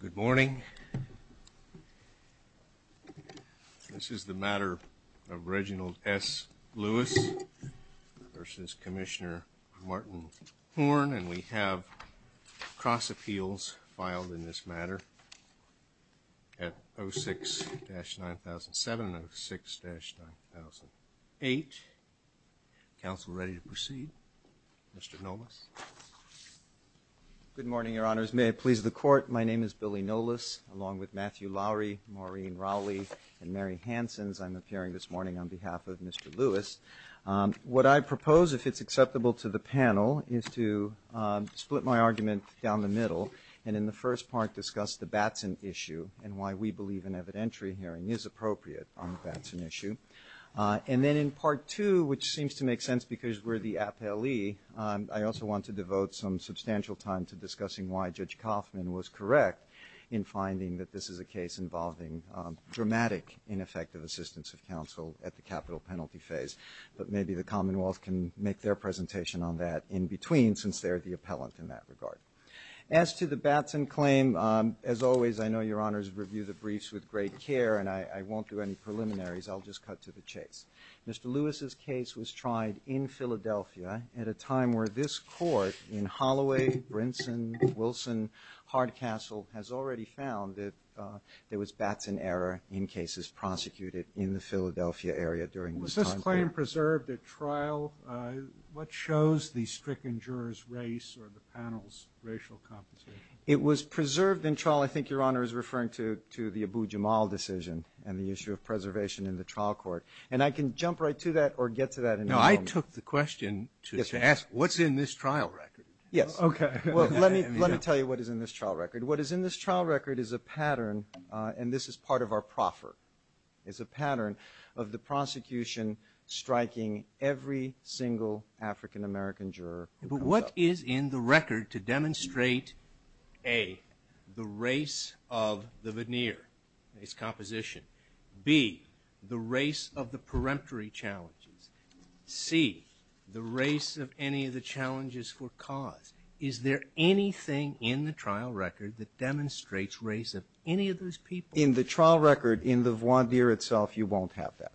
Good morning, this is the matter of Reginald S. Lewis versus Commissioner Martin Horn and we have cross appeals filed in this matter at 06-9007 and 06-9008. Counsel, ready to proceed? Mr. Nolas. Good morning, Your Honors. May it please the Court, my name is Billy Nolas, along with Matthew Lowry, Maureen Rowley, and Mary Hansons, I'm appearing this morning on behalf of Mr. Lewis. What I propose, if it's acceptable to the panel, is to split my argument down the middle and in the first part discuss the Batson issue and why we believe an evidentiary hearing is appropriate on the Batson issue. And then in part two, which seems to make sense because we're the appellee, I also want to devote some substantial time to discussing why Judge Kaufman was correct in finding that this is a case involving dramatic, ineffective assistance of counsel at the capital penalty phase. But maybe the Commonwealth can make their presentation on that in between since they're the appellant in that regard. As to the Batson claim, as always, I know Your Honors review the briefs with great care and I won't do any preliminaries, I'll just cut to the chase. Mr. Lewis's case was tried in Philadelphia at a time where this court in Holloway, Brinson, Wilson, Hardcastle has already found that there was Batson error in cases prosecuted in the Philadelphia area during this time period. Was Batson preserved at trial? What shows the stricken juror's race or the panel's racial competition? It was preserved in trial. I think Your Honor is referring to the Abu Jamal decision and the issue of preservation in the trial court. And I can jump right to that or get to that in a moment. No, I took the question to ask what's in this trial record? Yes. Okay. Well, let me tell you what is in this trial record. What is in this trial record is a pattern, and this is part of our proffer, is a pattern of the prosecution striking every single African-American juror. But what is in the record to demonstrate, A, the race of the veneer, its composition? B, the race of the peremptory challenges? C, the race of any of the challenges for cause? Is there anything in the trial record that demonstrates race of any of those people? In the trial record, in the voir dire itself, you won't have that.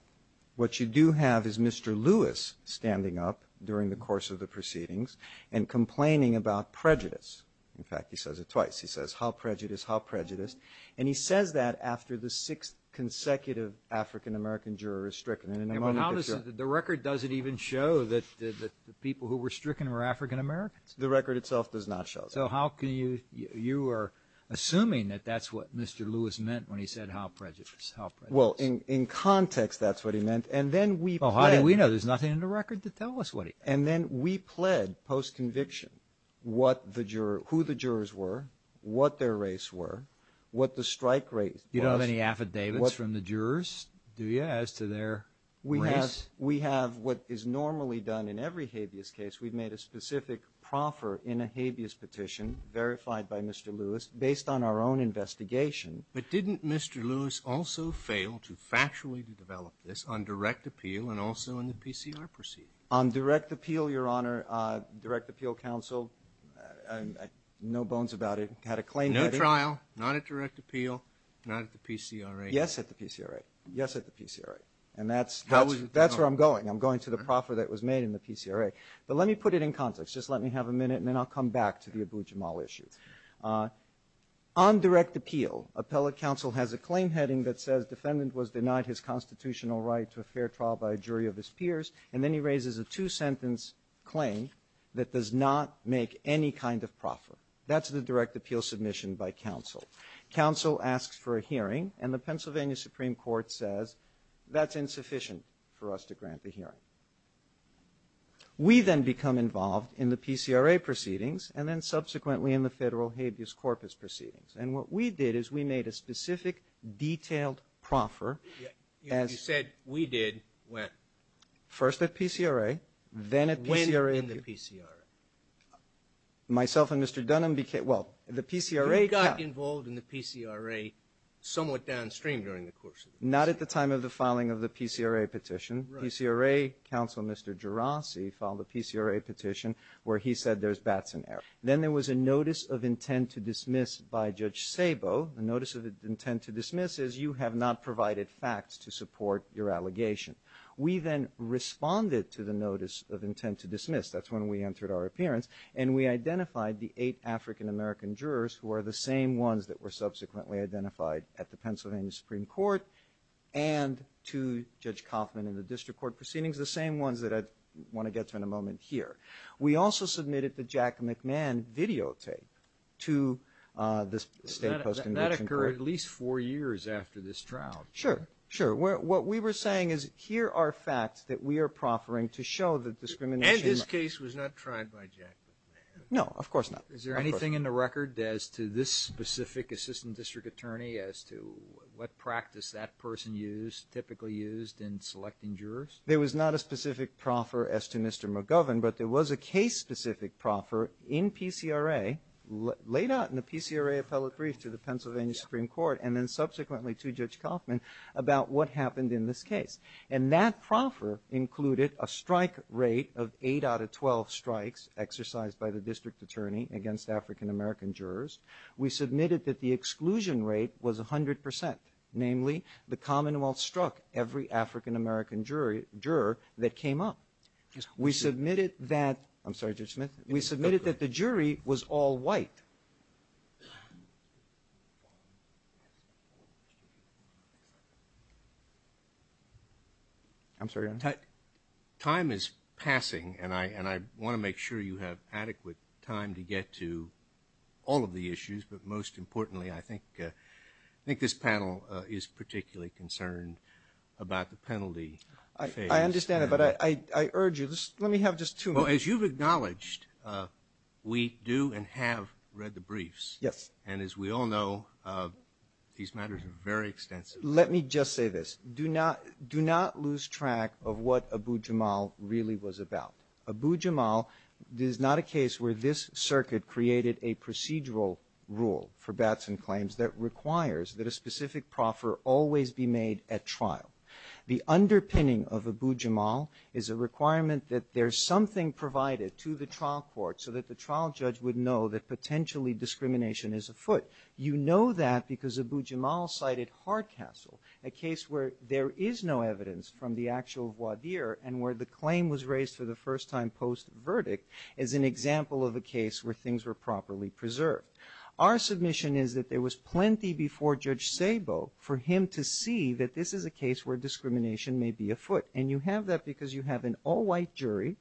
What you do have is Mr. Lewis standing up during the course of the proceedings and complaining about prejudice. In fact, he says it twice. He says, how prejudiced? How prejudiced? And he says that after the sixth consecutive African-American juror is stricken. And in a moment, it's your turn. The record doesn't even show that the people who were stricken were African-Americans? The record itself does not show that. So how can you, you are assuming that that's what Mr. Lewis meant when he said, how prejudiced? How prejudiced? Well, in context, that's what he meant. And then we pled. Well, how do we know? There's nothing in the record to tell us what he meant. And then we pled, post-conviction, what the juror, who the jurors were, what their race were, what the strike rate was. You don't have any affidavits from the jurors, do you, as to their race? We have what is normally done in every habeas case. We've made a specific proffer in a habeas petition, verified by Mr. Lewis, based on our own investigation. But didn't Mr. Lewis also fail to factually develop this on direct appeal and also in the PCR proceeding? On direct appeal, Your Honor, direct appeal counsel, no bones about it, had a claim. No trial, not at direct appeal, not at the PCRA. Yes, at the PCRA. Yes, at the PCRA. And that's where I'm going. I'm going to the proffer that was made in the PCRA. But let me put it in context. Just let me have a minute, and then I'll come back to the Abu Jamal issue. On direct appeal, appellate counsel has a claim heading that says, defendant was denied his constitutional right to a fair trial by a jury of his peers. And then he raises a two-sentence claim that does not make any kind of proffer. That's the direct appeal submission by counsel. Counsel asks for a hearing, and the Pennsylvania Supreme Court says, that's insufficient for us to grant the hearing. We then become involved in the PCRA proceedings and then subsequently in the Federal Habeas Corpus proceedings. And what we did is we made a specific, detailed proffer as you said we did when? First at PCRA, then at PCRA. When in the PCRA? Myself and Mr. Dunham became, well, the PCRA. You got involved in the PCRA somewhat downstream during the course of the PCRA. Not at the time of the filing of the PCRA petition. PCRA counsel, Mr. Gerasi, filed a PCRA petition where he said there's bats in the air. Then there was a notice of intent to dismiss by Judge Sabo. The notice of intent to dismiss is you have not provided facts to support your allegation. We then responded to the notice of intent to dismiss. That's when we entered our appearance. And we identified the eight African-American jurors who are the same ones that were subsequently identified at the Pennsylvania Supreme Court and to Judge Kauffman and the District Court proceedings, the same ones that I want to get to in a moment here. We also submitted the Jack McMahon videotape to the state post-conviction court. That occurred at least four years after this trial. Sure. Sure. What we were saying is here are facts that we are proffering to show that discrimination And this case was not tried by Jack McMahon? No. Of course not. Is there anything in the record as to this specific assistant district attorney as to what practice that person used, typically used in selecting jurors? There was not a specific proffer as to Mr. McGovern, but there was a case-specific proffer in PCRA laid out in the PCRA appellate brief to the Pennsylvania Supreme Court and then subsequently to Judge Kauffman about what happened in this case. And that proffer included a strike rate of eight out of 12 strikes exercised by the district attorney against African-American jurors. We submitted that the exclusion rate was 100%, namely the Commonwealth struck every African-American juror that came up. We submitted that the jury was all white. I'm sorry. Time is passing, and I want to make sure you have adequate time to get to all of the issues, but most importantly, I think this panel is particularly concerned about the penalty phase. I understand that, but I urge you, let me have just two minutes. Well, as you've acknowledged, we do and have read the briefs. Yes. And as we all know, these matters are very extensive. Let me just say this. Do not lose track of what Abu Jamal really was about. Abu Jamal is not a case where this circuit created a procedural rule for Batson claims that requires that a specific proffer always be made at trial. The underpinning of Abu Jamal is a requirement that there's something provided to the trial court so that the trial judge would know that potentially discrimination is afoot. You know that because Abu Jamal cited Hardcastle, a case where there is no evidence from the actual voir dire and where the claim was raised for the first time post-verdict as an example of a case where things were properly preserved. Our submission is that there was plenty before Judge Sabo for him to see that this is a case where discrimination may be afoot, and you have that because you have an all-white jury,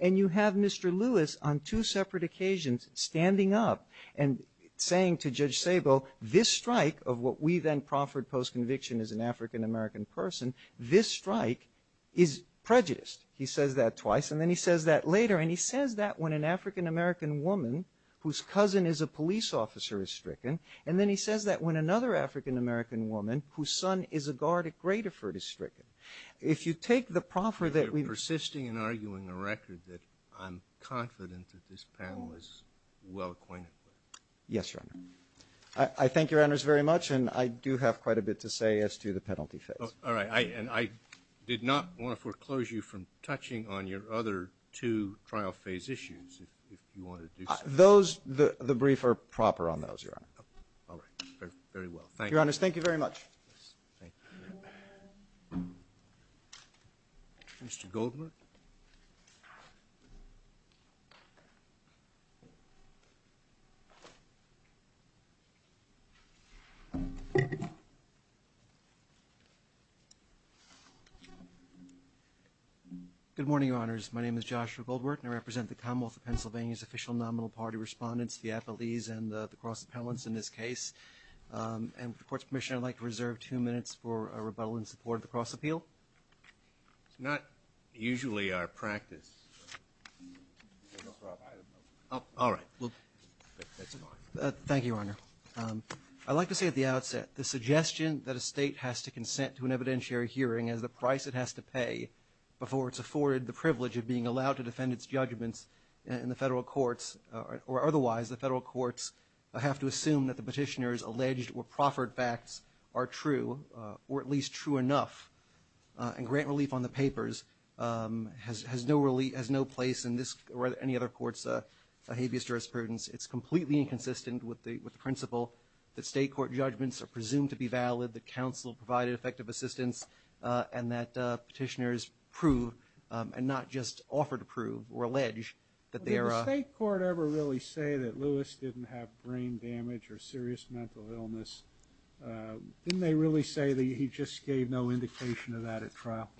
and you have Mr. Lewis on two separate occasions standing up and saying to Judge Sabo, this strike of what we then proffered post-conviction as an African-American person, this strike is prejudiced. He says that twice, and then he says that later, and he says that when an African-American woman whose cousin is a police officer is stricken, and then he says that when another African-American woman whose son is a guard at Gradoford is stricken. If you take the proffer that we've – You're persisting in arguing a record that I'm confident that this panel is well acquainted with. Yes, Your Honor. I thank Your Honors very much, and I do have quite a bit to say as to the penalty phase. All right. And I did not want to foreclose you from touching on your other two trial phase issues, if you want to do so. Those – the brief are proper on those, Your Honor. All right. Very well. Thank you. Your Honors, thank you very much. Mr. Goldman? Good morning, Your Honors. My name is Joshua Goldwert, and I represent the Commonwealth of Pennsylvania's official nominal party respondents, the appellees, and the cross appellants in this case. And with the Court's permission, I'd like to reserve two minutes for a rebuttal in support of the cross appeal. It's not usually our practice. All right. That's fine. Thank you, Your Honor. I'd like to say at the outset the suggestion that a state has to consent to an evidentiary hearing as the price it has to pay before it's afforded the privilege of being allowed to defend its judgments in the federal courts – or otherwise the federal courts have to assume that the petitioner's alleged or proffered facts are true, or at least true enough, and grant relief on the papers has no place in this or any other court's behaviorist jurisprudence. It's completely inconsistent with the principle that state court judgments are presumed to be valid, that counsel provided effective assistance, and that petitioners prove and not just offer to prove or allege that they are – Did the state court ever really say that Lewis didn't have brain damage or serious mental illness? Didn't they really say that he just gave no indication of that at trial?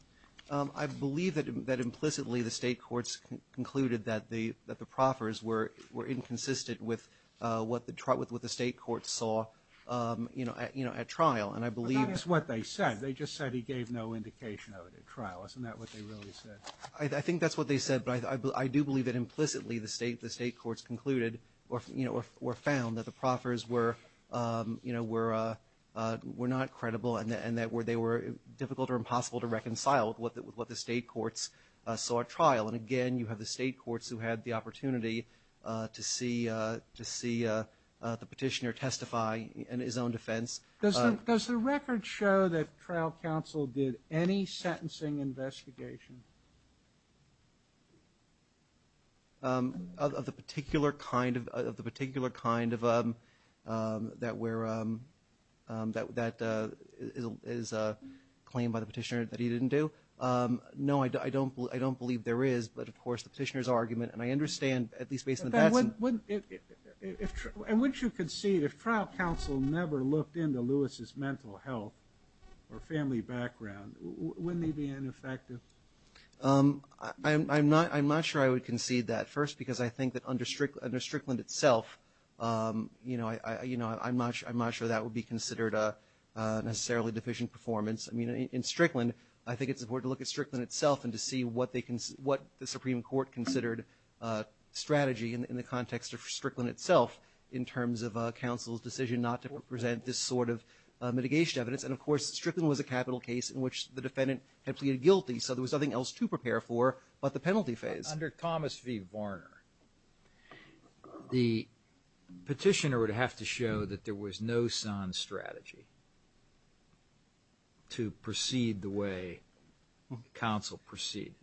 I believe that implicitly the state courts concluded that the proffers were inconsistent with what the state courts saw at trial, and I believe – But that is what they said. They just said he gave no indication of it at trial. Isn't that what they really said? I think that's what they said, but I do believe that implicitly the state courts concluded or found that the proffers were not credible and that they were difficult or impossible to reconcile with what the state courts saw at trial. And again, you have the state courts who had the opportunity to see the petitioner testify in his own defense. Does the record show that trial counsel did any sentencing investigation? Of the particular kind that is claimed by the petitioner that he didn't do? No, I don't believe there is, but of course the petitioner's argument, and I understand at least based on the facts – And wouldn't you concede if trial counsel never looked into Lewis' mental health or family background, wouldn't they be ineffective? I'm not sure I would concede that. First, because I think that under Strickland itself, you know, I'm not sure that would be considered a necessarily deficient performance. In Strickland, I think it's important to look at Strickland itself and to see in terms of counsel's decision not to present this sort of mitigation evidence. And of course, Strickland was a capital case in which the defendant had pleaded guilty, so there was nothing else to prepare for but the penalty phase. Under Thomas v. Varner, the petitioner would have to show that there was no sans strategy to proceed the way counsel proceeded.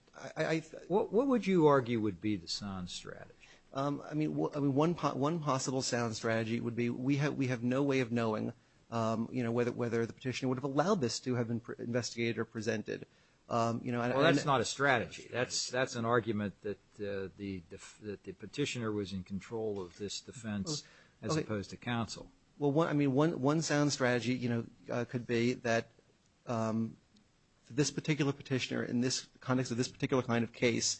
What would you argue would be the sans strategy? I mean, one possible sans strategy would be we have no way of knowing, you know, whether the petitioner would have allowed this to have been investigated or presented. Well, that's not a strategy. That's an argument that the petitioner was in control of this defense as opposed to counsel. Well, I mean, one sans strategy, you know, could be that this particular petitioner in the context of this particular kind of case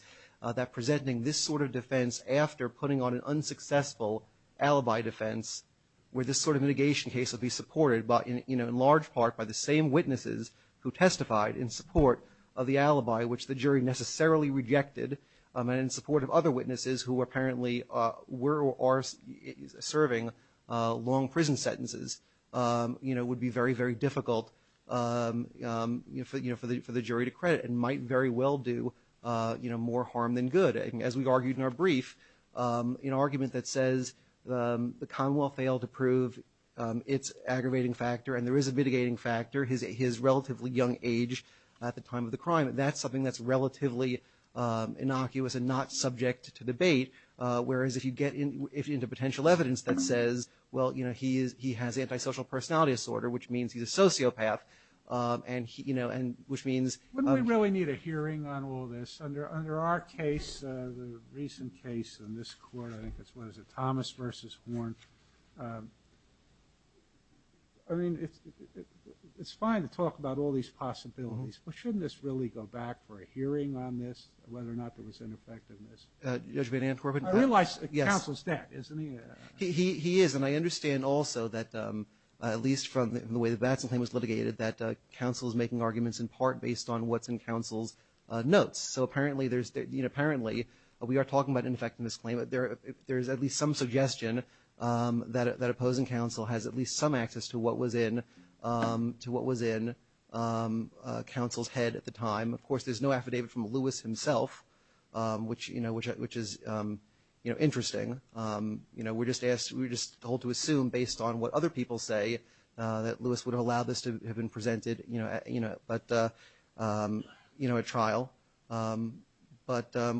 that presenting this sort of defense after putting on an unsuccessful alibi defense where this sort of mitigation case would be supported, you know, in large part by the same witnesses who testified in support of the alibi which the jury necessarily rejected and in support of other witnesses who apparently were or are serving long prison sentences, you know, would be very, very difficult, you know, for the jury to credit and might very well do, you know, more harm than good. And as we argued in our brief, you know, argument that says the Commonwealth failed to prove its aggravating factor, and there is a mitigating factor, his relatively young age at the time of the crime, that's something that's relatively innocuous and not subject to debate, whereas if you get into potential evidence that says, well, you know, he has antisocial personality disorder, which means he's a sociopath, and, you know, and which means. Wouldn't we really need a hearing on all this? Under our case, the recent case in this court, I think it's, what is it, Thomas v. Horn. I mean, it's fine to talk about all these possibilities, but shouldn't this really go back for a hearing on this, whether or not there was ineffectiveness? Judge Van Antwerpen? I realize counsel's dead, isn't he? He is, and I understand also that at least from the way that counsel's claim was litigated that counsel is making arguments in part based on what's in counsel's notes. So apparently there's, you know, apparently, we are talking about ineffectiveness claim, but there is at least some suggestion that opposing counsel has at least some access to what was in counsel's head at the time. Of course, there's no affidavit from Lewis himself, which, you know, which is, you know, interesting. You know, we're just told to assume based on what other people say that we're allowed this to have been presented, you know, at trial. But I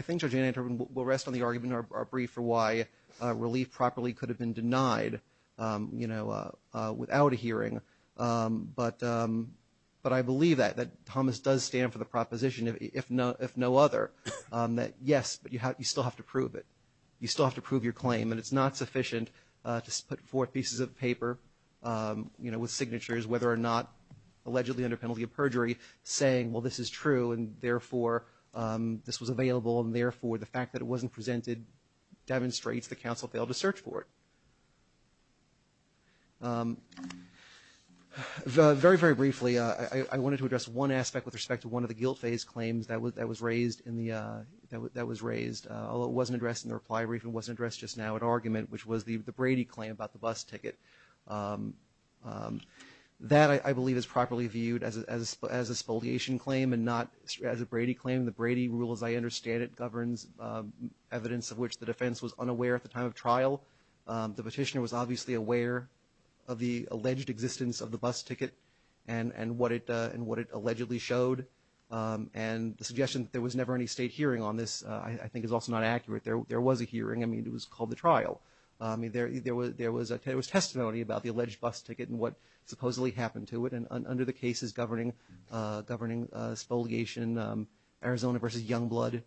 think Judge Van Antwerpen will rest on the argument in our brief for why relief properly could have been denied, you know, without a hearing. But I believe that, that Thomas does stand for the proposition, if no other, that, yes, but you still have to prove it. You still have to prove your claim, and it's not sufficient to put forth pieces of paper, you know, with signatures whether or not allegedly under penalty of perjury saying, well, this is true, and therefore this was available, and therefore the fact that it wasn't presented demonstrates the counsel failed to search for it. Very, very briefly, I wanted to address one aspect with respect to one of the guilt phase claims that was raised in the, that was raised, although it wasn't addressed in the reply brief and wasn't addressed just now at argument, which was the Brady claim about the bus ticket. That, I believe, is properly viewed as a spoliation claim and not as a Brady claim. The Brady rule, as I understand it, governs evidence of which the defense was unaware at the time of trial. The petitioner was obviously aware of the alleged existence of the bus ticket and what it allegedly showed, and the suggestion that there was never any state hearing on this I think is also not accurate. There was a hearing. I mean, it was called the trial. I mean, there was testimony about the alleged bus ticket and what supposedly happened to it, and under the cases governing spoliation, Arizona versus Youngblood,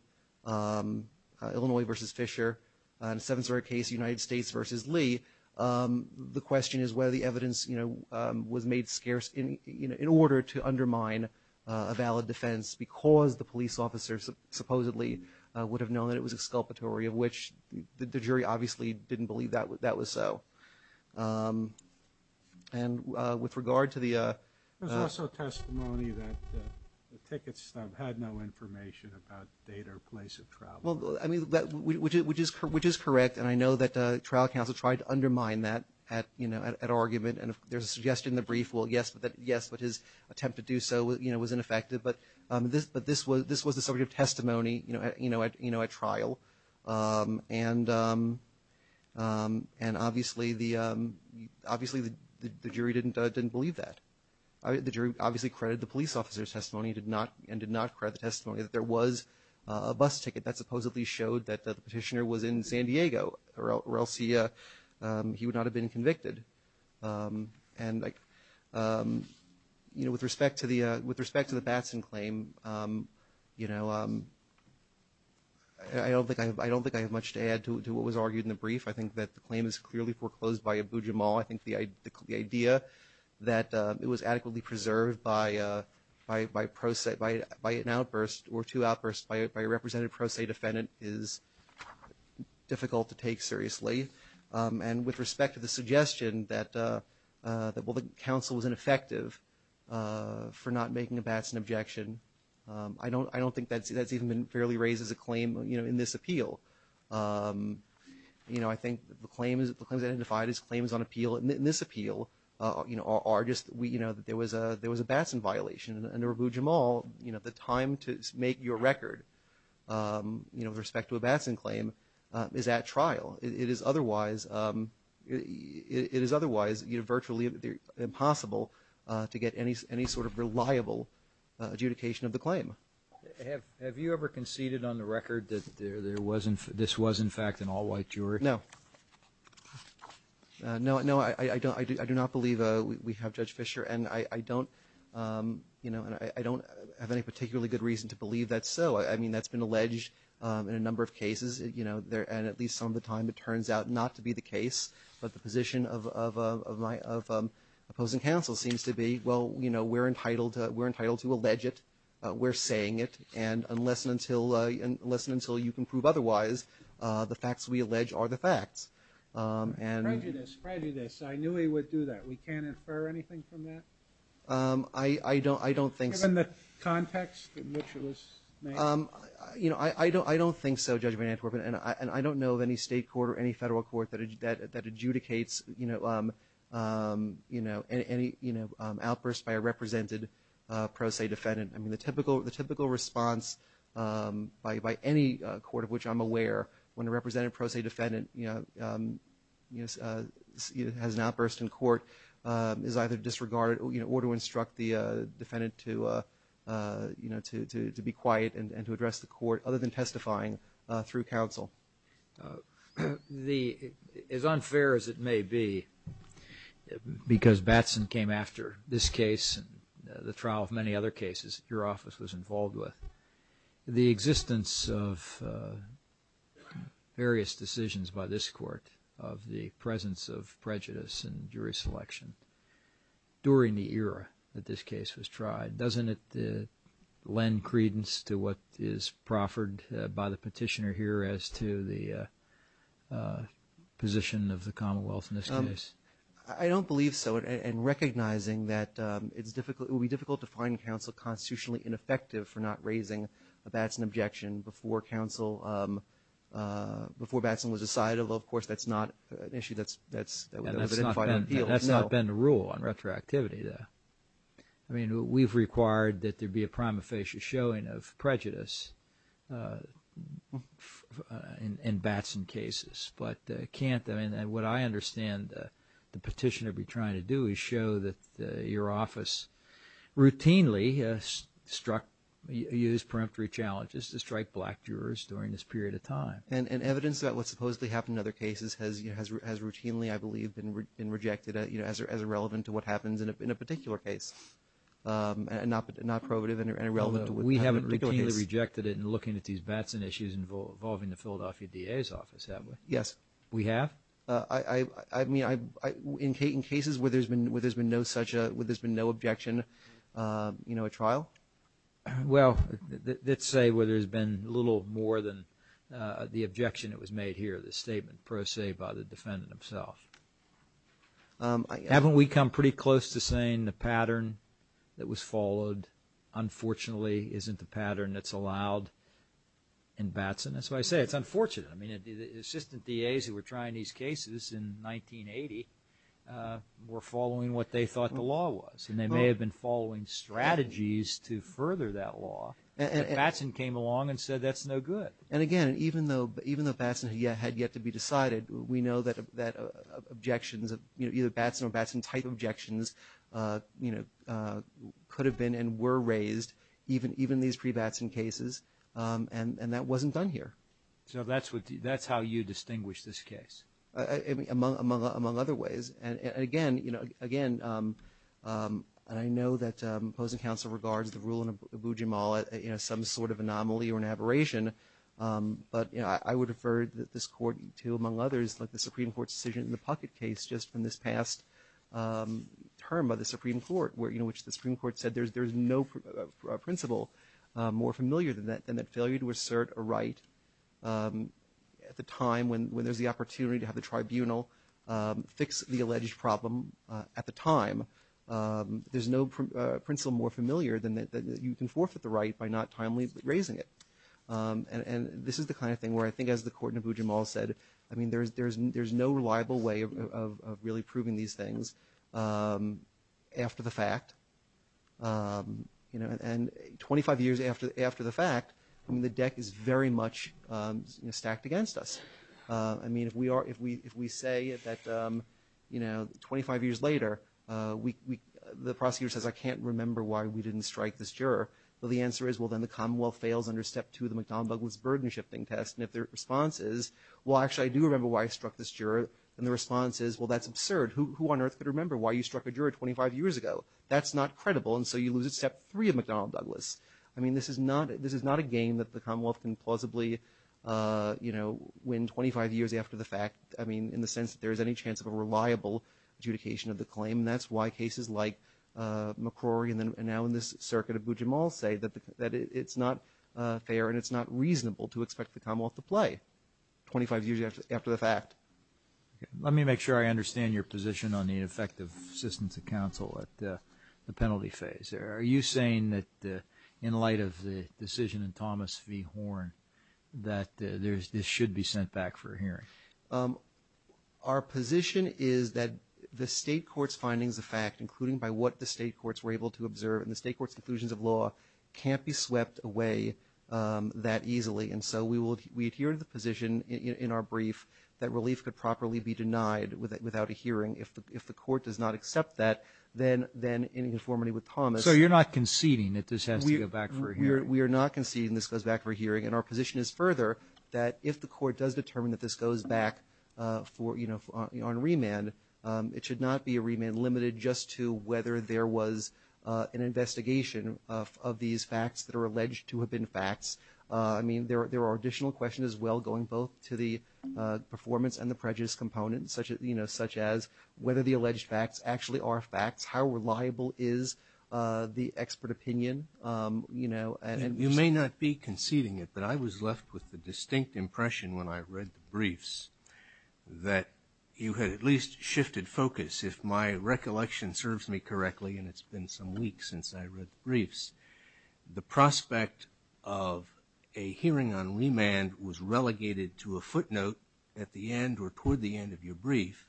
Illinois versus Fisher, and the seventh story case, United States versus Lee, the question is whether the evidence, you know, was made scarce in order to undermine a valid defense because the police officer supposedly would have known that it was exculpatory, of which the jury obviously didn't believe that was so. And with regard to the – There's also testimony that the ticket stub had no information about date or place of trial. Well, I mean, which is correct, and I know that trial counsel tried to undermine that at argument, and there's a suggestion in the brief, well, yes, but his attempt to do so, you know, was ineffective. But this was the subject of testimony, you know, at trial, and obviously the jury didn't believe that. The jury obviously credited the police officer's testimony and did not credit the testimony that there was a bus ticket that supposedly showed that the petitioner was in San Diego or else he would not have been convicted. And, you know, with respect to the Batson claim, you know, I don't think I have much to add to what was argued in the brief. I think that the claim is clearly foreclosed by Abu Jamal. I think the idea that it was adequately preserved by an outburst or two outbursts by a representative pro se defendant is difficult to take seriously. And with respect to the suggestion that, well, the counsel was ineffective for not making a Batson objection, I don't think that's even been fairly raised as a claim, you know, in this appeal. You know, I think the claim is identified as claims on appeal. In this appeal, you know, there was a Batson violation, and to Abu Jamal, you know, the time to make your record, you know, with respect to a Batson claim is at trial. It is otherwise virtually impossible to get any sort of reliable adjudication of the claim. Have you ever conceded on the record that this was, in fact, an all-white jury? No. No, I do not believe we have Judge Fischer, and I don't, you know, and I don't have any particularly good reason to believe that's so. I mean, that's been alleged in a number of cases, you know, and at least some of the time it turns out not to be the case, but the position of opposing counsel seems to be, well, you know, we're entitled to allege it, we're saying it, and unless and until you can prove otherwise, the facts we allege are the facts. Prejudice, prejudice. I knew he would do that. We can't infer anything from that? I don't think so. Given the context in which it was made? You know, I don't think so, Judge Van Antwerpen, and I don't know of any state court or any federal court that adjudicates, you know, outbursts by a represented pro se defendant. I mean, the typical response by any court of which I'm aware when a represented pro se defendant has an outburst in court is either disregard or to instruct the defendant to, you know, to be quiet and to address the court other than testifying through counsel. As unfair as it may be, because Batson came after this case, the trial of many other cases your office was involved with, the existence of various decisions by this court of the presence of prejudice and jury selection during the era that this case was tried. Doesn't it lend credence to what is proffered by the petitioner here as to the position of the Commonwealth in this case? I don't believe so, and recognizing that it would be difficult to find counsel constitutionally ineffective for not raising a Batson objection before Batson was decided, although, of course, that's not an issue that's been identified. That's not been the rule on retroactivity, though. I mean, we've required that there be a prima facie showing of prejudice in Batson cases, but can't, I mean, what I understand the petitioner be trying to do is show that your office routinely struck, used peremptory challenges to strike black jurors during this period of time. And evidence about what supposedly happened in other cases has routinely, I believe, been rejected as irrelevant to what happens in a particular case, not probative and irrelevant to what happened in a particular case. We haven't routinely rejected it in looking at these Batson issues involving the Philadelphia DA's office, have we? Yes. We have? I mean, in cases where there's been no objection, you know, a trial? Well, let's say where there's been little more than the objection that was made here, the statement pro se by the defendant himself. Haven't we come pretty close to saying the pattern that was followed, unfortunately, isn't the pattern that's allowed in Batson? That's why I say it's unfortunate. I mean, the assistant DA's who were trying these cases in 1980 were following what they thought the law was, and they may have been following strategies to further that law. But Batson came along and said that's no good. And, again, even though Batson had yet to be decided, we know that objections, either Batson or Batson-type objections could have been and were raised even in these pre-Batson cases, and that wasn't done here. So that's how you distinguish this case? Among other ways. And, again, you know, again, I know that opposing counsel regards the rule in Abu Jamal as some sort of anomaly or an aberration, but, you know, I would refer this Court to, among others, like the Supreme Court's decision in the Puckett case just from this past term by the Supreme Court, you know, which the Supreme Court said there's no principle more familiar than that, than that failure to assert a right at the time when there's the opportunity to have the tribunal fix the alleged problem at the time. There's no principle more familiar than that you can forfeit the right by not timely raising it. And this is the kind of thing where I think, as the Court in Abu Jamal said, I mean, there's no reliable way of really proving these things after the fact. You know, and 25 years after the fact, I mean, the deck is very much stacked against us. I mean, if we say that, you know, 25 years later, the prosecutor says, I can't remember why we didn't strike this juror, well, the answer is, well, then the Commonwealth fails under Step 2 of the McDonnell-Douglas burden shifting test. And if their response is, well, actually, I do remember why I struck this juror, and the response is, well, that's absurd. Who on earth could remember why you struck a juror 25 years ago? That's not credible, and so you lose at Step 3 of McDonnell-Douglas. I mean, this is not a game that the Commonwealth can plausibly, you know, win 25 years after the fact, I mean, in the sense that there is any chance of a reliable adjudication of the claim, and that's why cases like McCrory and now in this circuit of Abu Jamal say that it's not fair and it's not reasonable to expect the Commonwealth to play 25 years after the fact. Let me make sure I understand your position on the ineffective assistance of counsel at the penalty phase. Are you saying that in light of the decision in Thomas v. Horn that this should be sent back for a hearing? Our position is that the state court's findings of fact, including by what the state courts were able to observe in the state court's conclusions of law, can't be swept away that easily, and so we adhere to the position in our brief If the court does not accept that, then in conformity with Thomas So you're not conceding that this has to go back for a hearing? We are not conceding this goes back for a hearing, and our position is further that if the court does determine that this goes back on remand, it should not be a remand limited just to whether there was an investigation of these facts that are alleged to have been facts. I mean, there are additional questions as well going both to the performance and the prejudice component, such as whether the alleged facts actually are facts, how reliable is the expert opinion? You may not be conceding it, but I was left with the distinct impression when I read the briefs that you had at least shifted focus, if my recollection serves me correctly, and it's been some weeks since I read the briefs. The prospect of a hearing on remand was relegated to a footnote at the end or toward the end of your brief.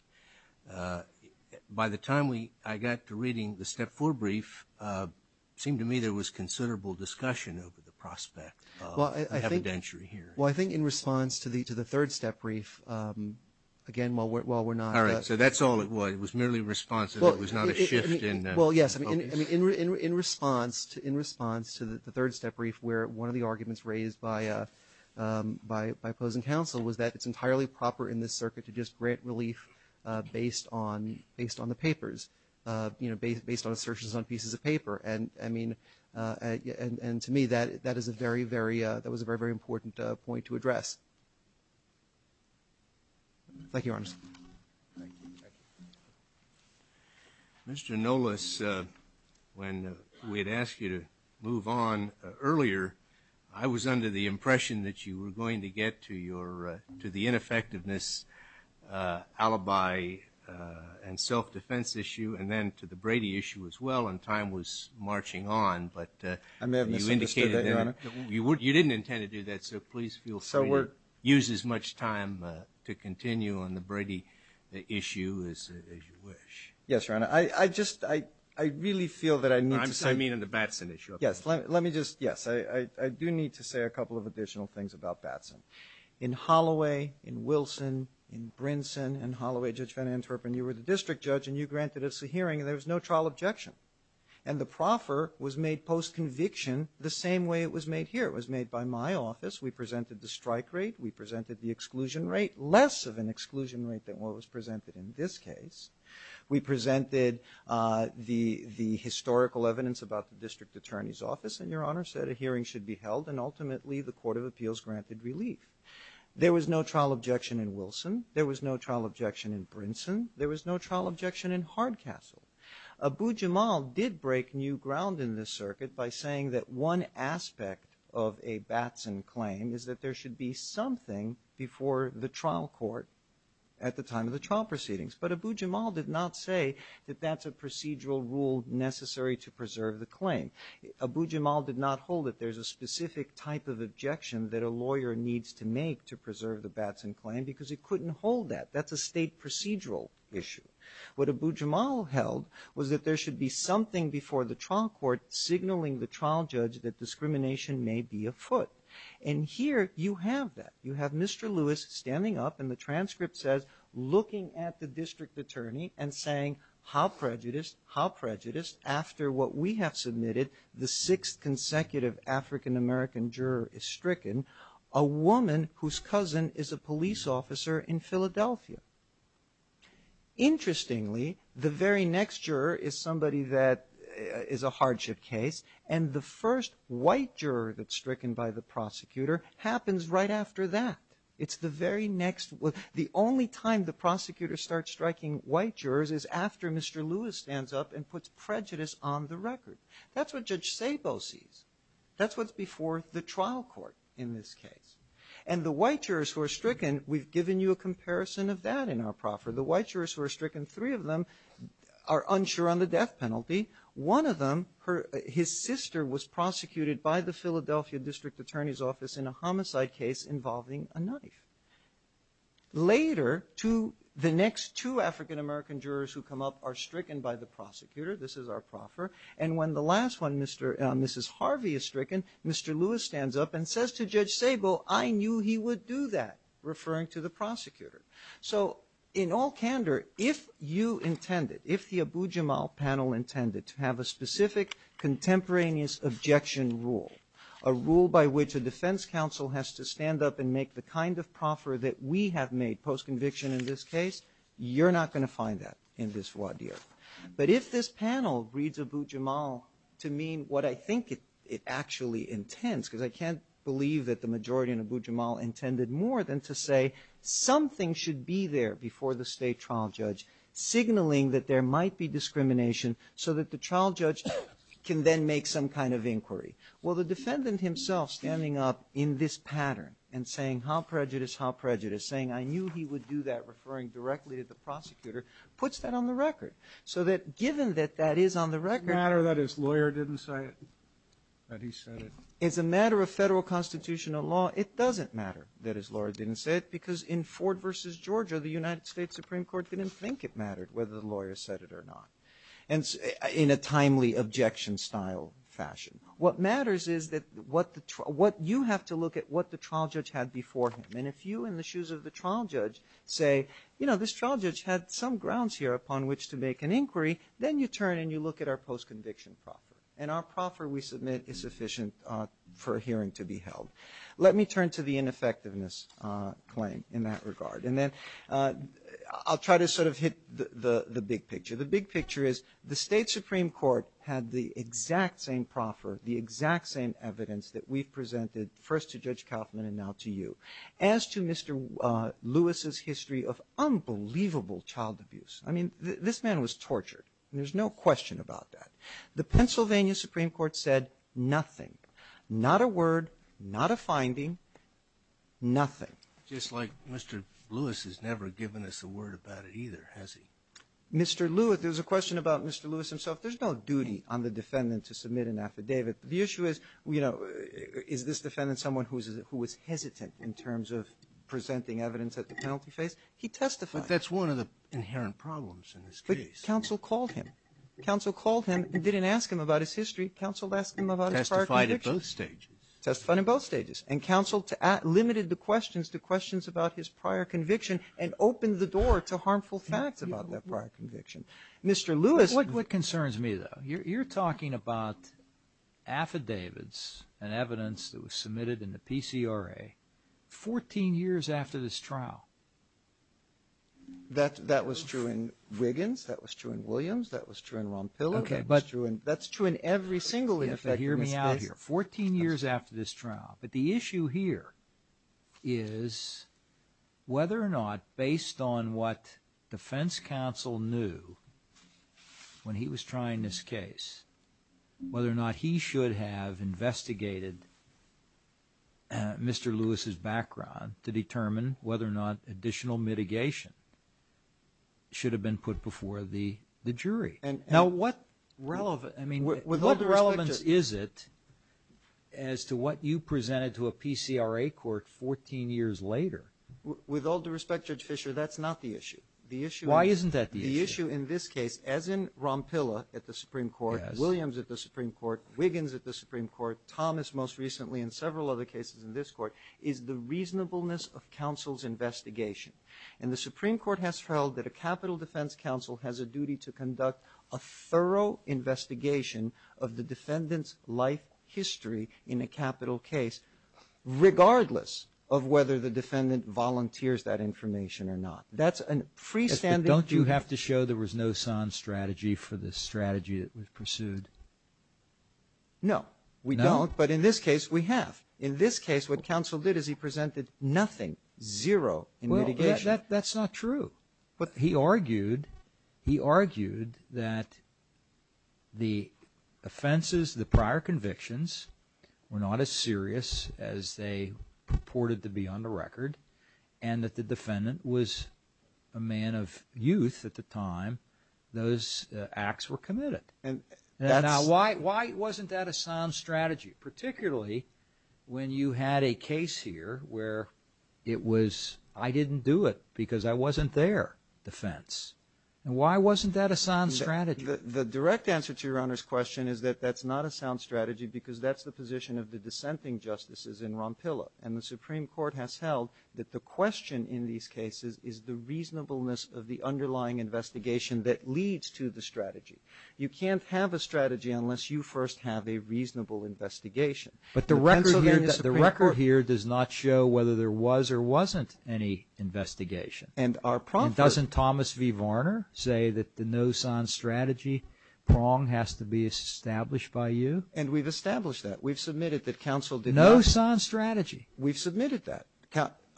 By the time I got to reading the step four brief, it seemed to me there was considerable discussion over the prospect of evidentiary hearing. Well, I think in response to the third step brief, again, while we're not All right, so that's all it was. It was merely a response and it was not a shift in focus. Well, yes. In response to the third step brief where one of the arguments raised by opposing counsel was that it's entirely proper in this circuit to just grant relief based on the papers, based on assertions on pieces of paper. And to me, that was a very, very important point to address. Thank you, Your Honors. Thank you. Mr. Nolis, when we had asked you to move on earlier, I was under the impression that you were going to get to the ineffectiveness alibi and self-defense issue and then to the Brady issue as well, and time was marching on. I may have misunderstood that, Your Honor. You didn't intend to do that, so please feel free to use as much time to continue on the Brady issue as you wish. Yes, Your Honor. I just, I really feel that I need to say I mean on the Batson issue. Yes, let me just, yes, I do need to say a couple of additional things about Batson. In Holloway, in Wilson, in Brinson, in Holloway, Judge Van Antwerpen, you were the district judge and you granted us a hearing and there was no trial objection. And the proffer was made post-conviction the same way it was made here. It was made by my office. We presented the strike rate. We presented the exclusion rate. Less of an exclusion rate than what was presented in this case. We presented the historical evidence about the district attorney's office and, Your Honor, said a hearing should be held and ultimately the Court of Appeals granted relief. There was no trial objection in Wilson. There was no trial objection in Brinson. There was no trial objection in Hardcastle. Abu Jamal did break new ground in this circuit by saying that one aspect of a Batson claim is that there should be something before the trial court at the time of the trial proceedings. But Abu Jamal did not say that that's a procedural rule necessary to preserve the claim. Abu Jamal did not hold that there's a specific type of objection that a lawyer needs to make to preserve the Batson claim because he couldn't hold that. That's a state procedural issue. What Abu Jamal held was that there should be something before the trial court signaling the trial judge that discrimination may be afoot. And here you have that. You have Mr. Lewis standing up and the transcript says, looking at the district attorney and saying, how prejudiced, how prejudiced after what we have submitted, the sixth consecutive African-American juror is stricken, a woman whose cousin is a police officer in Philadelphia. Interestingly, the very next juror is somebody that is a hardship case and the first white juror that's stricken by the prosecutor happens right after that. It's the very next one. The only time the prosecutor starts striking white jurors is after Mr. Lewis stands up and puts prejudice on the record. That's what Judge Sabo sees. That's what's before the trial court in this case. And the white jurors who are stricken, we've given you a comparison of that in our proffer. The white jurors who are stricken, three of them are unsure on the death penalty. One of them, his sister was prosecuted by the Philadelphia district attorney's office in a homicide case involving a knife. Later, the next two African-American jurors who come up are stricken by the prosecutor. This is our proffer. And when the last one, Mrs. Harvey, is stricken, Mr. Lewis stands up and says to Judge Sabo, I knew he would do that, referring to the prosecutor. So in all candor, if you intended, if the Abu-Jamal panel intended to have a specific contemporaneous objection rule, a rule by which a defense counsel has to stand up and make the kind of proffer that we have made post-conviction in this case, you're not going to find that in this voir dire. But if this panel reads Abu-Jamal to mean what I think it actually intends, because I can't believe that the majority in Abu-Jamal intended more than to say something should be there before the state trial judge, signaling that there might be discrimination so that the trial judge can then make some kind of inquiry. Well, the defendant himself standing up in this pattern and saying how prejudiced, how prejudiced, saying I knew he would do that, referring directly to the prosecutor, puts that on the record. So that given that that is on the record. As a matter of federal constitutional law, it doesn't matter that his lawyer didn't say it, because in Ford v. Georgia, the United States Supreme Court didn't think it mattered whether the lawyer said it or not, in a timely objection-style fashion. What matters is that what you have to look at what the trial judge had before him. And if you, in the shoes of the trial judge, say, you know, this trial judge had some grounds here upon which to make an inquiry, then you turn and you look at our post-conviction proffer. And our proffer, we submit, is sufficient for a hearing to be held. Let me turn to the ineffectiveness claim in that regard. And then I'll try to sort of hit the big picture. The big picture is the State Supreme Court had the exact same proffer, the exact same evidence that we've presented, first to Judge Kaufman and now to you, as to Mr. Lewis's history of unbelievable child abuse. I mean, this man was tortured. There's no question about that. The Pennsylvania Supreme Court said nothing, not a word, not a finding, nothing. Just like Mr. Lewis has never given us a word about it either, has he? Mr. Lewis, there's a question about Mr. Lewis himself. There's no duty on the defendant to submit an affidavit. The issue is, you know, is this defendant someone who is hesitant in terms of presenting evidence at the penalty phase? He testified. But that's one of the inherent problems in this case. But counsel called him. Counsel called him and didn't ask him about his history. Counsel asked him about his prior convictions. Testified at both stages. Testified at both stages. And counsel limited the questions to questions about his prior conviction and opened the door to harmful facts about that prior conviction. Mr. Lewis. What concerns me, though, you're talking about affidavits and evidence that was submitted in the PCRA 14 years after this trial. That was true in Wiggins. That was true in Williams. That was true in Ron Pillow. That's true in every single in effect in this case. You have to hear me out here. 14 years after this trial. But the issue here is whether or not based on what defense counsel knew when he was trying this case, whether or not he should have investigated Mr. Lewis's background to determine whether or not additional mitigation should have been put before the jury. Now, what relevance is it as to what you presented to a PCRA court 14 years later? With all due respect, Judge Fischer, that's not the issue. Why isn't that the issue? The issue in this case, as in Ron Pillow at the Supreme Court, Williams at the Supreme Court, Wiggins at the Supreme Court, Thomas most recently and several other cases in this court, is the reasonableness of counsel's investigation. And the Supreme Court has held that a capital defense counsel has a duty to conduct a thorough investigation of the defendant's life history in a capital case regardless of whether the defendant volunteers that information or not. That's a freestanding view. But don't you have to show there was no sans strategy for the strategy that was pursued? No, we don't. No? But in this case, we have. In this case, what counsel did is he presented nothing, zero in mitigation. Well, that's not true. He argued that the offenses, the prior convictions, were not as serious as they purported to be on the record and that the defendant was a man of youth at the time those acts were committed. Now, why wasn't that a sans strategy? Particularly when you had a case here where it was I didn't do it because I wasn't there, defense. And why wasn't that a sans strategy? The direct answer to Your Honor's question is that that's not a sans strategy because that's the position of the dissenting justices in Rompilla. And the Supreme Court has held that the question in these cases is the reasonableness of the underlying investigation that leads to the strategy. You can't have a strategy unless you first have a reasonable investigation. But the record here does not show whether there was or wasn't any investigation. And our prong for it. And doesn't Thomas V. Varner say that the no sans strategy prong has to be established by you? And we've established that. We've submitted that counsel did not. No sans strategy. We've submitted that.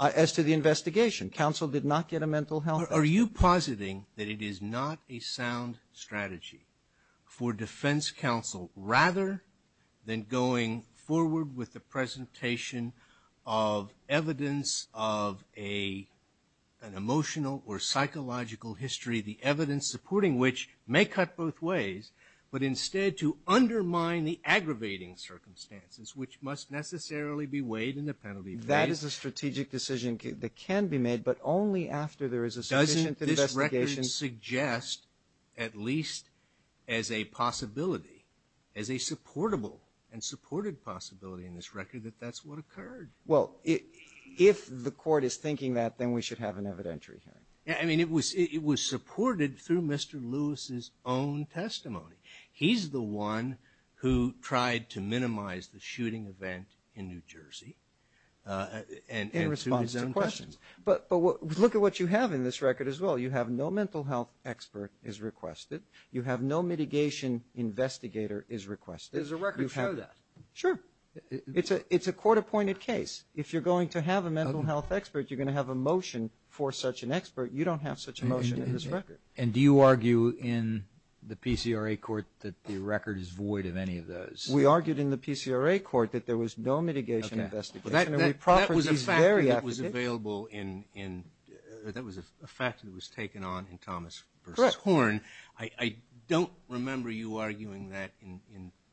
As to the investigation, counsel did not get a mental health. Are you positing that it is not a sound strategy for defense counsel rather than going forward with the presentation of evidence of an emotional or psychological history, the evidence supporting which may cut both ways, but instead to undermine the aggravating circumstances which must necessarily be weighed in the penalty phase? That is a strategic decision that can be made, but only after there is a sufficient investigation. Doesn't this record suggest at least as a possibility, as a supportable and supported possibility in this record that that's what occurred? Well, if the court is thinking that, then we should have an evidentiary hearing. I mean, it was supported through Mr. Lewis's own testimony. He's the one who tried to minimize the shooting event in New Jersey. In response to questions. But look at what you have in this record as well. You have no mental health expert is requested. You have no mitigation investigator is requested. Does the record show that? Sure. It's a court-appointed case. If you're going to have a mental health expert, you're going to have a motion for such an expert. You don't have such a motion in this record. And do you argue in the PCRA court that the record is void of any of those? We argued in the PCRA court that there was no mitigation investigation. That was a fact that was taken on in Thomas v. Horn. I don't remember you arguing that in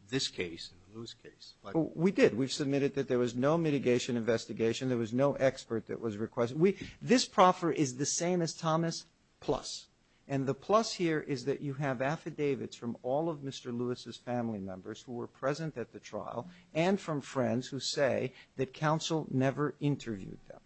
this case, in the Lewis case. We did. We submitted that there was no mitigation investigation. There was no expert that was requested. This proffer is the same as Thomas plus. And the plus here is that you have affidavits from all of Mr. Lewis's family members who were present at the trial and from friends who say that counsel never interviewed them.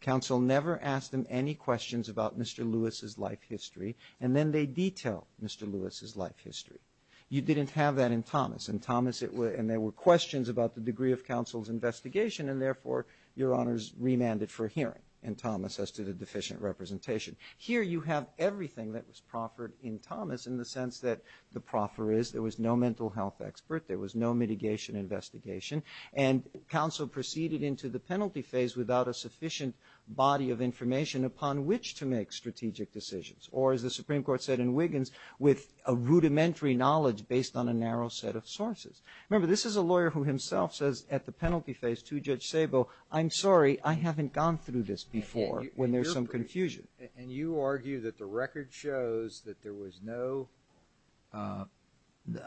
Counsel never asked them any questions about Mr. Lewis's life history. And then they detail Mr. Lewis's life history. You didn't have that in Thomas. In Thomas it was and there were questions about the degree of counsel's investigation and therefore your honors remanded for hearing in Thomas as to the deficient representation. Here you have everything that was proffered in Thomas in the sense that the proffer is there was no mental health expert. There was no mitigation investigation. And counsel proceeded into the penalty phase without a sufficient body of information upon which to make strategic decisions. Or as the Supreme Court said in Wiggins, with a rudimentary knowledge based on a narrow set of sources. Remember this is a lawyer who himself says at the penalty phase to Judge Szabo, I'm sorry, I haven't gone through this before when there's some confusion. And you argue that the record shows that there was no.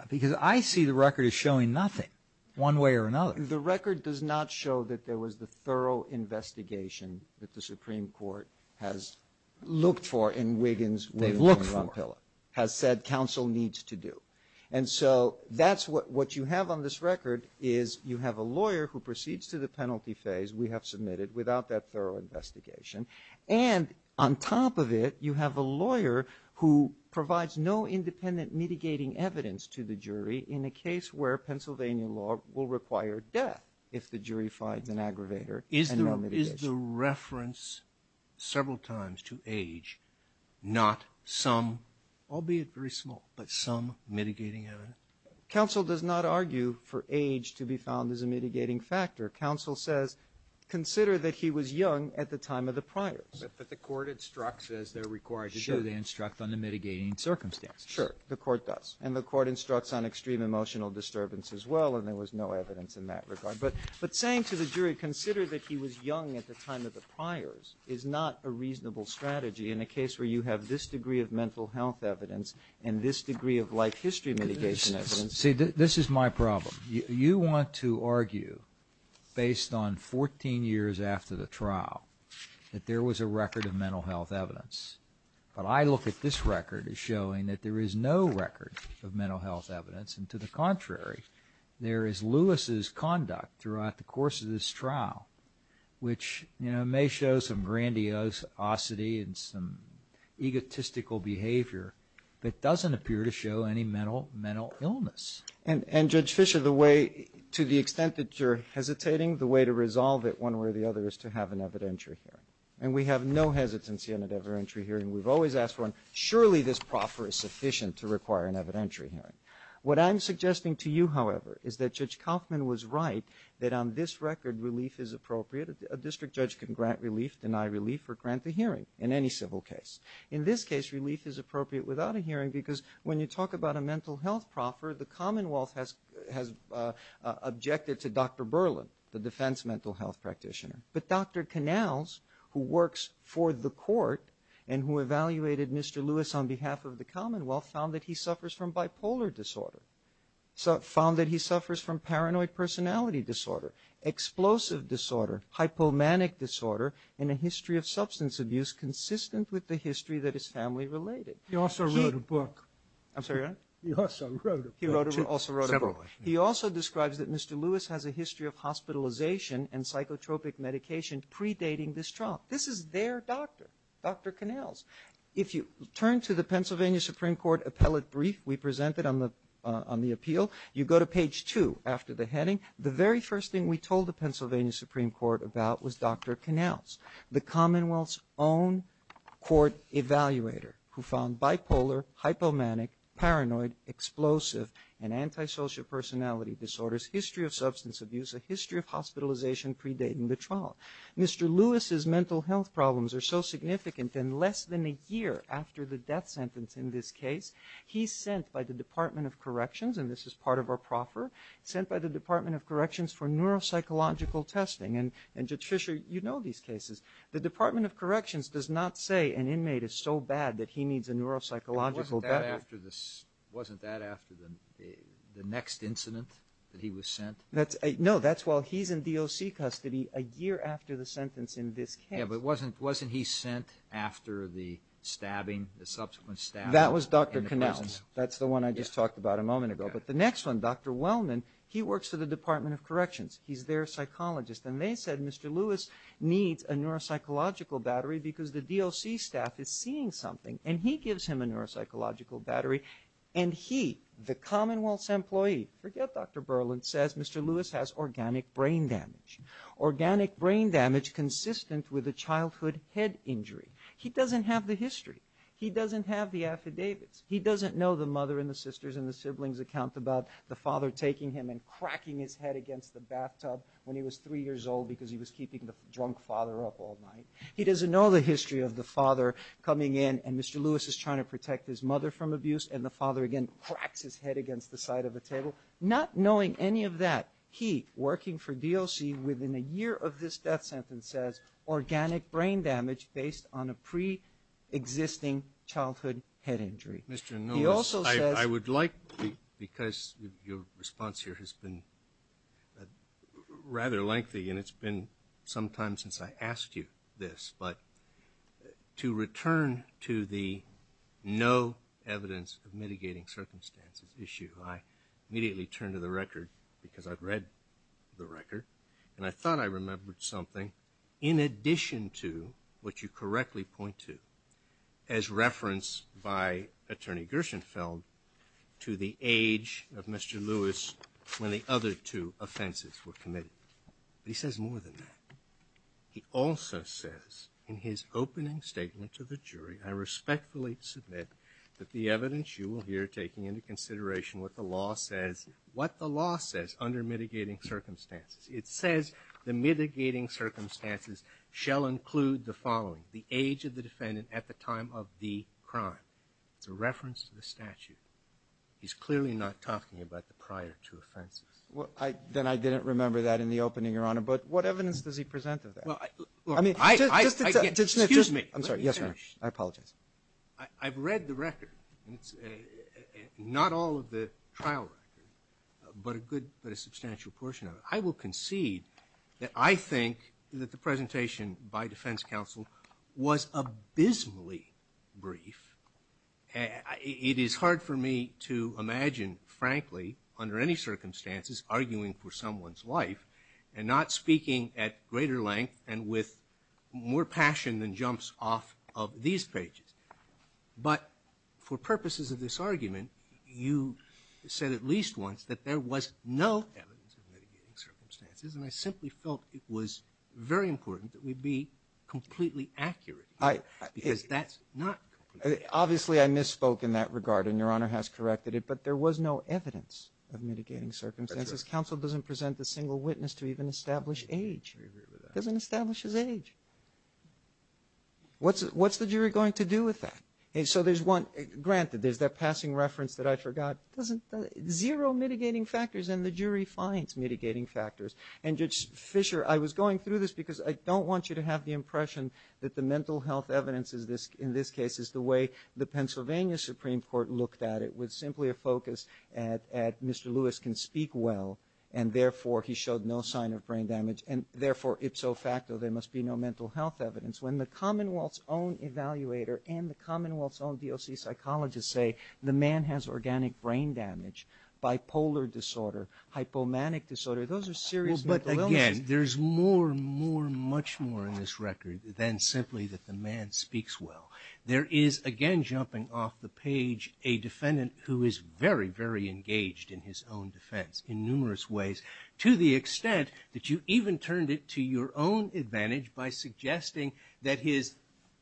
Because I see the record as showing nothing one way or another. The record does not show that there was the thorough investigation that the Supreme Court has looked for in Wiggins. They've looked for it. Has said counsel needs to do. And so that's what you have on this record is you have a lawyer who proceeds to the penalty phase. We have submitted without that thorough investigation. And on top of it you have a lawyer who provides no independent mitigating evidence to the jury in a case where Pennsylvania law will require death if the jury finds an aggravator and no mitigation. Did the reference several times to age not some, albeit very small, but some mitigating evidence? Counsel does not argue for age to be found as a mitigating factor. Counsel says consider that he was young at the time of the priors. But the court instructs as they're required to do. Sure. They instruct on the mitigating circumstances. Sure. The court does. And the court instructs on extreme emotional disturbance as well. And there was no evidence in that regard. But saying to the jury consider that he was young at the time of the priors is not a reasonable strategy in a case where you have this degree of mental health evidence and this degree of life history mitigation evidence. See, this is my problem. You want to argue based on 14 years after the trial that there was a record of mental health evidence. But I look at this record as showing that there is no record of mental health evidence. And to the contrary, there is Lewis's conduct throughout the course of this trial which may show some grandiosity and some egotistical behavior that doesn't appear to show any mental illness. And, Judge Fischer, the way to the extent that you're hesitating, the way to resolve it one way or the other is to have an evidentiary hearing. And we have no hesitancy on an evidentiary hearing. We've always asked for one. Surely this proffer is sufficient to require an evidentiary hearing. What I'm suggesting to you, however, is that Judge Kaufman was right that on this record relief is appropriate. A district judge can grant relief, deny relief, or grant a hearing in any civil case. In this case, relief is appropriate without a hearing because when you talk about a mental health proffer, the Commonwealth has objected to Dr. Berlin, the defense mental health practitioner. But Dr. Canals, who works for the court and who evaluated Mr. Lewis on behalf of the disorder, found that he suffers from paranoid personality disorder, explosive disorder, hypomanic disorder, and a history of substance abuse consistent with the history that is family related. He also wrote a book. I'm sorry, what? He also wrote a book. He also wrote a book. He also describes that Mr. Lewis has a history of hospitalization and psychotropic medication predating this trial. This is their doctor, Dr. Canals. If you turn to the Pennsylvania Supreme Court appellate brief we presented on the appeal, you go to page two after the heading, the very first thing we told the Pennsylvania Supreme Court about was Dr. Canals, the Commonwealth's own court evaluator who found bipolar, hypomanic, paranoid, explosive, and antisocial personality disorders, history of substance abuse, a history of hospitalization predating the trial. Mr. Lewis's mental health problems are so significant that less than a year after the death sentence in this case, he's sent by the Department of Corrections, and this is part of our proffer, sent by the Department of Corrections for neuropsychological testing. And Judge Fisher, you know these cases. The Department of Corrections does not say an inmate is so bad that he needs a neuropsychological better. Wasn't that after the next incident that he was sent? No, that's while he's in DOC custody a year after the sentence in this case. Yeah, but wasn't he sent after the stabbing, the subsequent stabbing in the prison? That was Dr. Canals. That's the one I just talked about a moment ago. But the next one, Dr. Wellman, he works for the Department of Corrections. He's their psychologist. And they said Mr. Lewis needs a neuropsychological battery because the DOC staff is seeing something, and he gives him a neuropsychological battery. And he, the Commonwealth's employee, forget Dr. Berland, says Mr. Lewis has organic brain damage, organic brain damage consistent with a childhood head injury. He doesn't have the history. He doesn't have the affidavits. He doesn't know the mother and the sisters and the siblings account about the father taking him and cracking his head against the bathtub when he was three years old because he was keeping the drunk father up all night. He doesn't know the history of the father coming in, and Mr. Lewis is trying to protect his mother from abuse, and the father, again, cracks his head against the side of the table. Not knowing any of that, he, working for DOC, within a year of this death sentence, says organic brain damage based on a preexisting childhood head injury. He also says – Mr. Nolas, I would like, because your response here has been rather lengthy, and it's been some time since I asked you this, but to return to the no evidence of mitigating circumstances issue, I immediately turned to the record because I've read the record, and I thought I remembered something in addition to what you correctly point to as referenced by Attorney Gershenfeld to the age of Mr. Lewis when the other two offenses were committed. But he says more than that. He also says in his opening statement to the jury, I respectfully submit that the evidence you will hear, taking into consideration what the law says, what the law says under mitigating circumstances, it says the mitigating circumstances shall include the following, the age of the defendant at the time of the crime. It's a reference to the statute. He's clearly not talking about the prior two offenses. Well, then I didn't remember that in the opening, Your Honor, but what evidence does he present of that? Well, I – I mean – Excuse me. I'm sorry. Yes, sir. I apologize. I've read the record, and it's – not all of the trial record, but a good – but a substantial portion of it. I will concede that I think that the presentation by defense counsel was abysmally brief. It is hard for me to imagine, frankly, under any circumstances, arguing for someone's life and not speaking at greater length and with more passion than jumps off of these pages. But for purposes of this argument, you said at least once that there was no evidence of mitigating circumstances, and I simply felt it was very important that we be completely accurate. I – Because that's not – Obviously, I misspoke in that regard, and Your Honor has corrected it, but there was no evidence of mitigating circumstances. That's right. Counsel doesn't present a single witness to even establish age. I agree with that. Doesn't establish his age. What's the jury going to do with that? And so there's one – granted, there's that passing reference that I forgot. Doesn't – zero mitigating factors, and the jury finds mitigating factors. And, Judge Fischer, I was going through this because I don't want you to have the impression that the mental health evidence in this case is the way the Pennsylvania Supreme Court looked at it, with simply a focus at Mr. Lewis can speak well, and therefore he showed no sign of brain damage, and therefore, ipso facto, there must be no mental health evidence. When the Commonwealth's own evaluator and the Commonwealth's own DOC psychologist say the man has organic brain damage, bipolar disorder, hypomanic disorder, those are serious mental illnesses. Well, but, again, there's more, more, much more in this record than simply that the man speaks well. There is, again, jumping off the page, a defendant who is very, very engaged in his own defense in numerous ways, to the extent that you even turned it to your own advantage by suggesting that his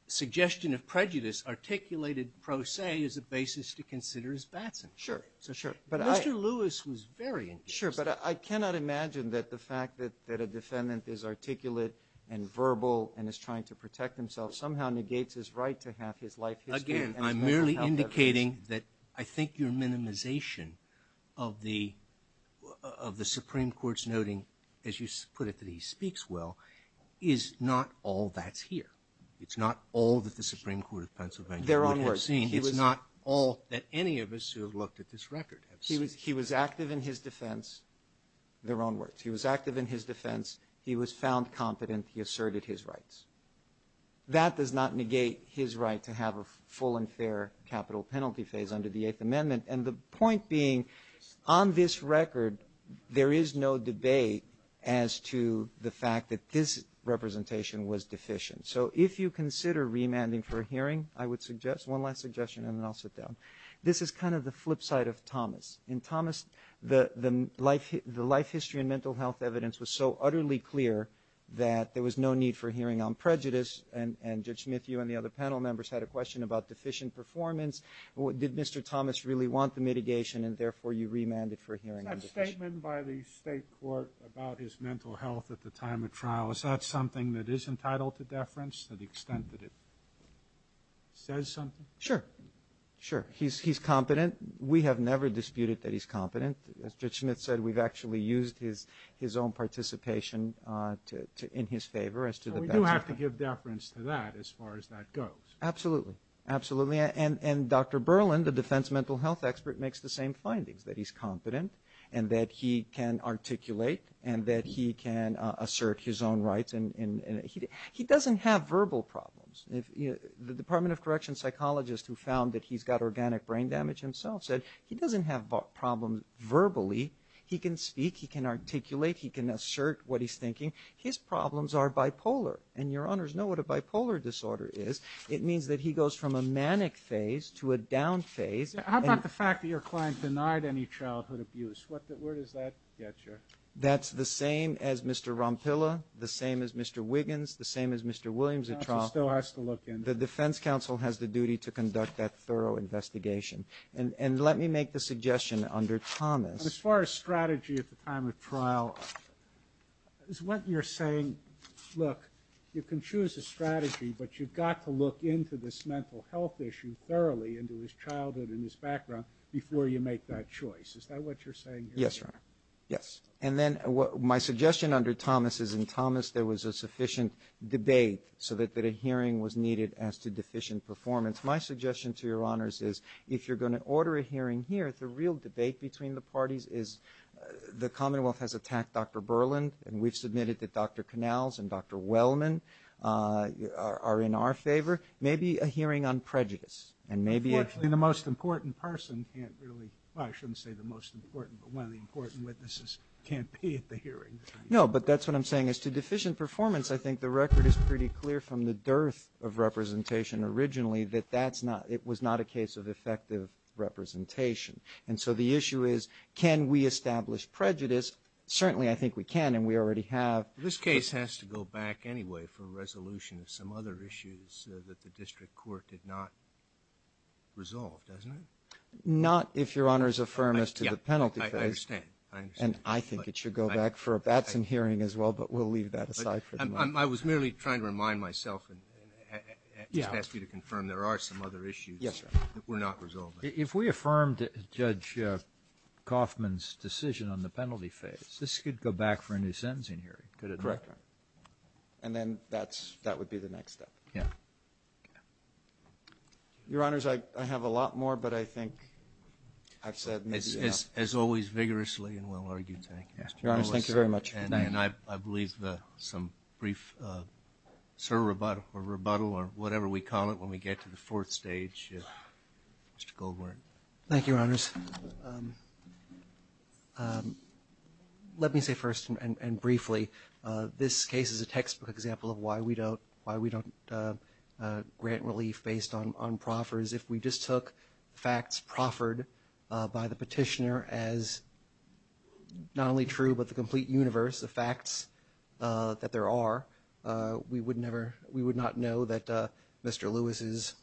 suggestion of prejudice articulated pro se as a basis to consider as Batson. Sure. So, sure. But I – Mr. Lewis was very engaged. Sure. But I cannot imagine that the fact that a defendant is articulate and verbal and is trying to protect himself somehow negates his right to have his life history and his mental health evidence. Again, I'm merely indicating that I think your minimization of the Supreme Court's noting, as you put it, that he speaks well, is not all that's here. It's not all that the Supreme Court of Pennsylvania would have seen. They're onward. It's not all that any of us who have looked at this record have seen. He was active in his defense. They're onward. He was active in his defense. He was found competent. He asserted his rights. That does not negate his right to have a full and fair capital penalty phase under the Eighth Amendment. And the point being, on this record, there is no debate as to the fact that this representation was deficient. So if you consider remanding for a hearing, I would suggest – one last suggestion and then I'll sit down. This is kind of the flip side of Thomas. In Thomas, the life history and mental health evidence was so utterly clear that there was no need for a hearing on prejudice. And Judge Smith, you and the other panel members had a question about deficient performance. Did Mr. Thomas really want the mitigation and, therefore, you remanded for a hearing on deficiency? Is that statement by the state court about his mental health at the time of trial, is that something that is entitled to deference to the extent that it says something? Sure. He's competent. We have never disputed that he's competent. As Judge Smith said, we've actually used his own participation in his favor as to the – We do have to give deference to that as far as that goes. Absolutely. Absolutely. And Dr. Berlin, the defense mental health expert, makes the same findings, that he's competent and that he can articulate and that he can assert his own rights. He doesn't have verbal problems. The Department of Corrections psychologist who found that he's got organic brain damage himself said he doesn't have problems verbally. He can speak. He can articulate. He can assert what he's thinking. His problems are bipolar. And your honors know what a bipolar disorder is. It means that he goes from a manic phase to a down phase. How about the fact that your client denied any childhood abuse? Where does that get you? That's the same as Mr. Rompilla, the same as Mr. Wiggins, the same as Mr. Williams at The defense counsel has the duty to conduct that thorough investigation. And let me make the suggestion under Thomas. As far as strategy at the time of trial, is what you're saying, look, you can choose a strategy, but you've got to look into this mental health issue thoroughly into his childhood and his background before you make that choice. Is that what you're saying here? Yes, your honor. Yes. And then my suggestion under Thomas is in Thomas there was a sufficient debate so that a hearing was needed as to deficient performance. My suggestion to your honors is if you're going to order a hearing here, the real debate between the parties is the Commonwealth has attacked Dr. Berland and we've submitted that Dr. Canals and Dr. Wellman are in our favor. Maybe a hearing on prejudice and maybe a – Unfortunately, the most important person can't really – well, I shouldn't say the most important, but one of the important witnesses can't be at the hearing. No, but that's what I'm saying. As to deficient performance, I think the record is pretty clear from the dearth of representation originally that that's not – it was not a case of effective representation. And so the issue is can we establish prejudice? Certainly I think we can and we already have. This case has to go back anyway for a resolution of some other issues that the district court did not resolve, doesn't it? Not if your honors affirm us to the penalty phase. I understand. And I think it should go back for a Batson hearing as well, but we'll leave that aside for the moment. I was merely trying to remind myself and ask you to confirm there are some other issues that were not resolved. If we affirmed Judge Kaufman's decision on the penalty phase, this could go back for a new sentencing hearing, could it not? Correct, Your Honor. And then that's – that would be the next step. Yeah. Your honors, I have a lot more, but I think I've said maybe enough. As always, vigorously and well-argued. Thank you. Your honors, thank you very much. Good night. And I believe some brief, sir, rebuttal or whatever we call it when we get to the fourth stage. Mr. Goldwater. Thank you, your honors. Let me say first and briefly, this case is a textbook example of why we don't grant relief based on proffers. If we just took the facts proffered by the petitioner as not only true but the complete universe of facts that there are, we would never – we would not know that Mr. Lewis is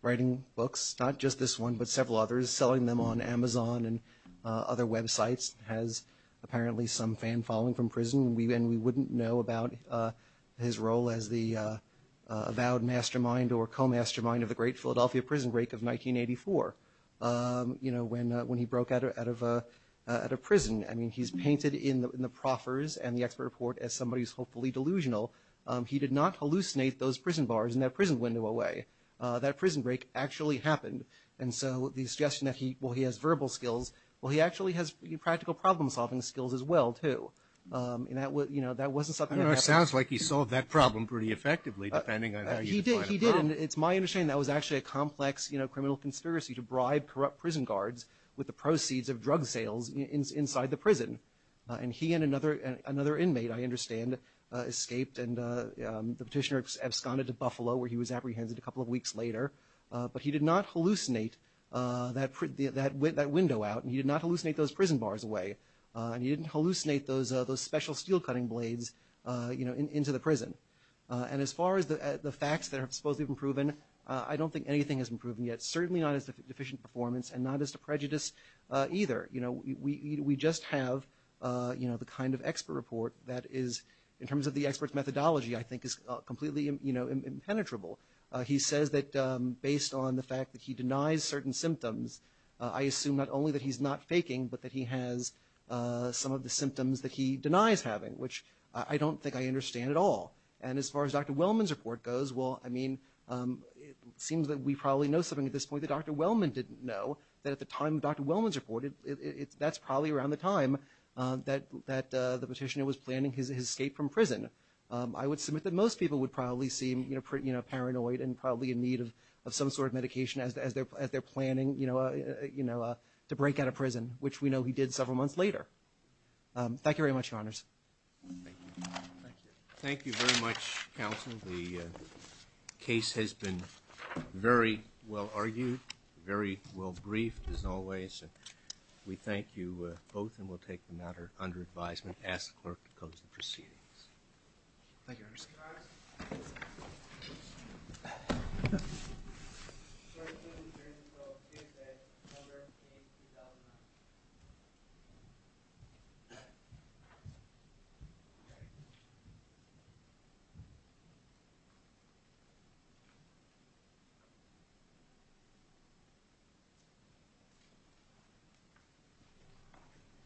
writing books, not just this one but several others, selling them on Amazon and other websites, has apparently some fan following from prison, and we wouldn't know about his role as the avowed mastermind or co-mastermind of the great Philadelphia prison break of 1984, you know, when he broke out of prison. I mean, he's painted in the proffers and the expert report as somebody who's hopefully delusional. He did not hallucinate those prison bars and that prison window away. That prison break actually happened. And so the suggestion that he – well, he has verbal skills. Well, he actually has practical problem-solving skills as well, too. And that was – you know, that wasn't something that happened. define a problem. It did, and it's my understanding that was actually a complex criminal conspiracy to bribe corrupt prison guards with the proceeds of drug sales inside the prison. And he and another inmate, I understand, escaped and the petitioner absconded to Buffalo where he was apprehended a couple of weeks later. But he did not hallucinate that window out, and he did not hallucinate those prison bars away, and he didn't hallucinate those special steel-cutting blades into the prison. And as far as the facts that have supposedly been proven, I don't think anything has been proven yet. Certainly not as to deficient performance and not as to prejudice either. You know, we just have, you know, the kind of expert report that is, in terms of the expert's methodology, I think is completely impenetrable. He says that based on the fact that he denies certain symptoms, I assume not only that he's not faking but that he has some of the symptoms that he denies having, which I don't think I understand at all. And as far as Dr. Wellman's report goes, well, I mean, it seems that we probably know something at this point that Dr. Wellman didn't know, that at the time Dr. Wellman's reported, that's probably around the time that the petitioner was planning his escape from prison. I would submit that most people would probably seem, you know, paranoid and probably in need of some sort of medication as they're planning, you know, to break out of prison, which we know he did several months later. Thank you very much, Your Honors. Thank you. Thank you. Thank you very much, counsel. The case has been very well argued, very well briefed, as always. We thank you both and we'll take the matter under advisement. Thank you, Your Honors. Thank you, Your Honors. Thank you. Thank you. Thank you.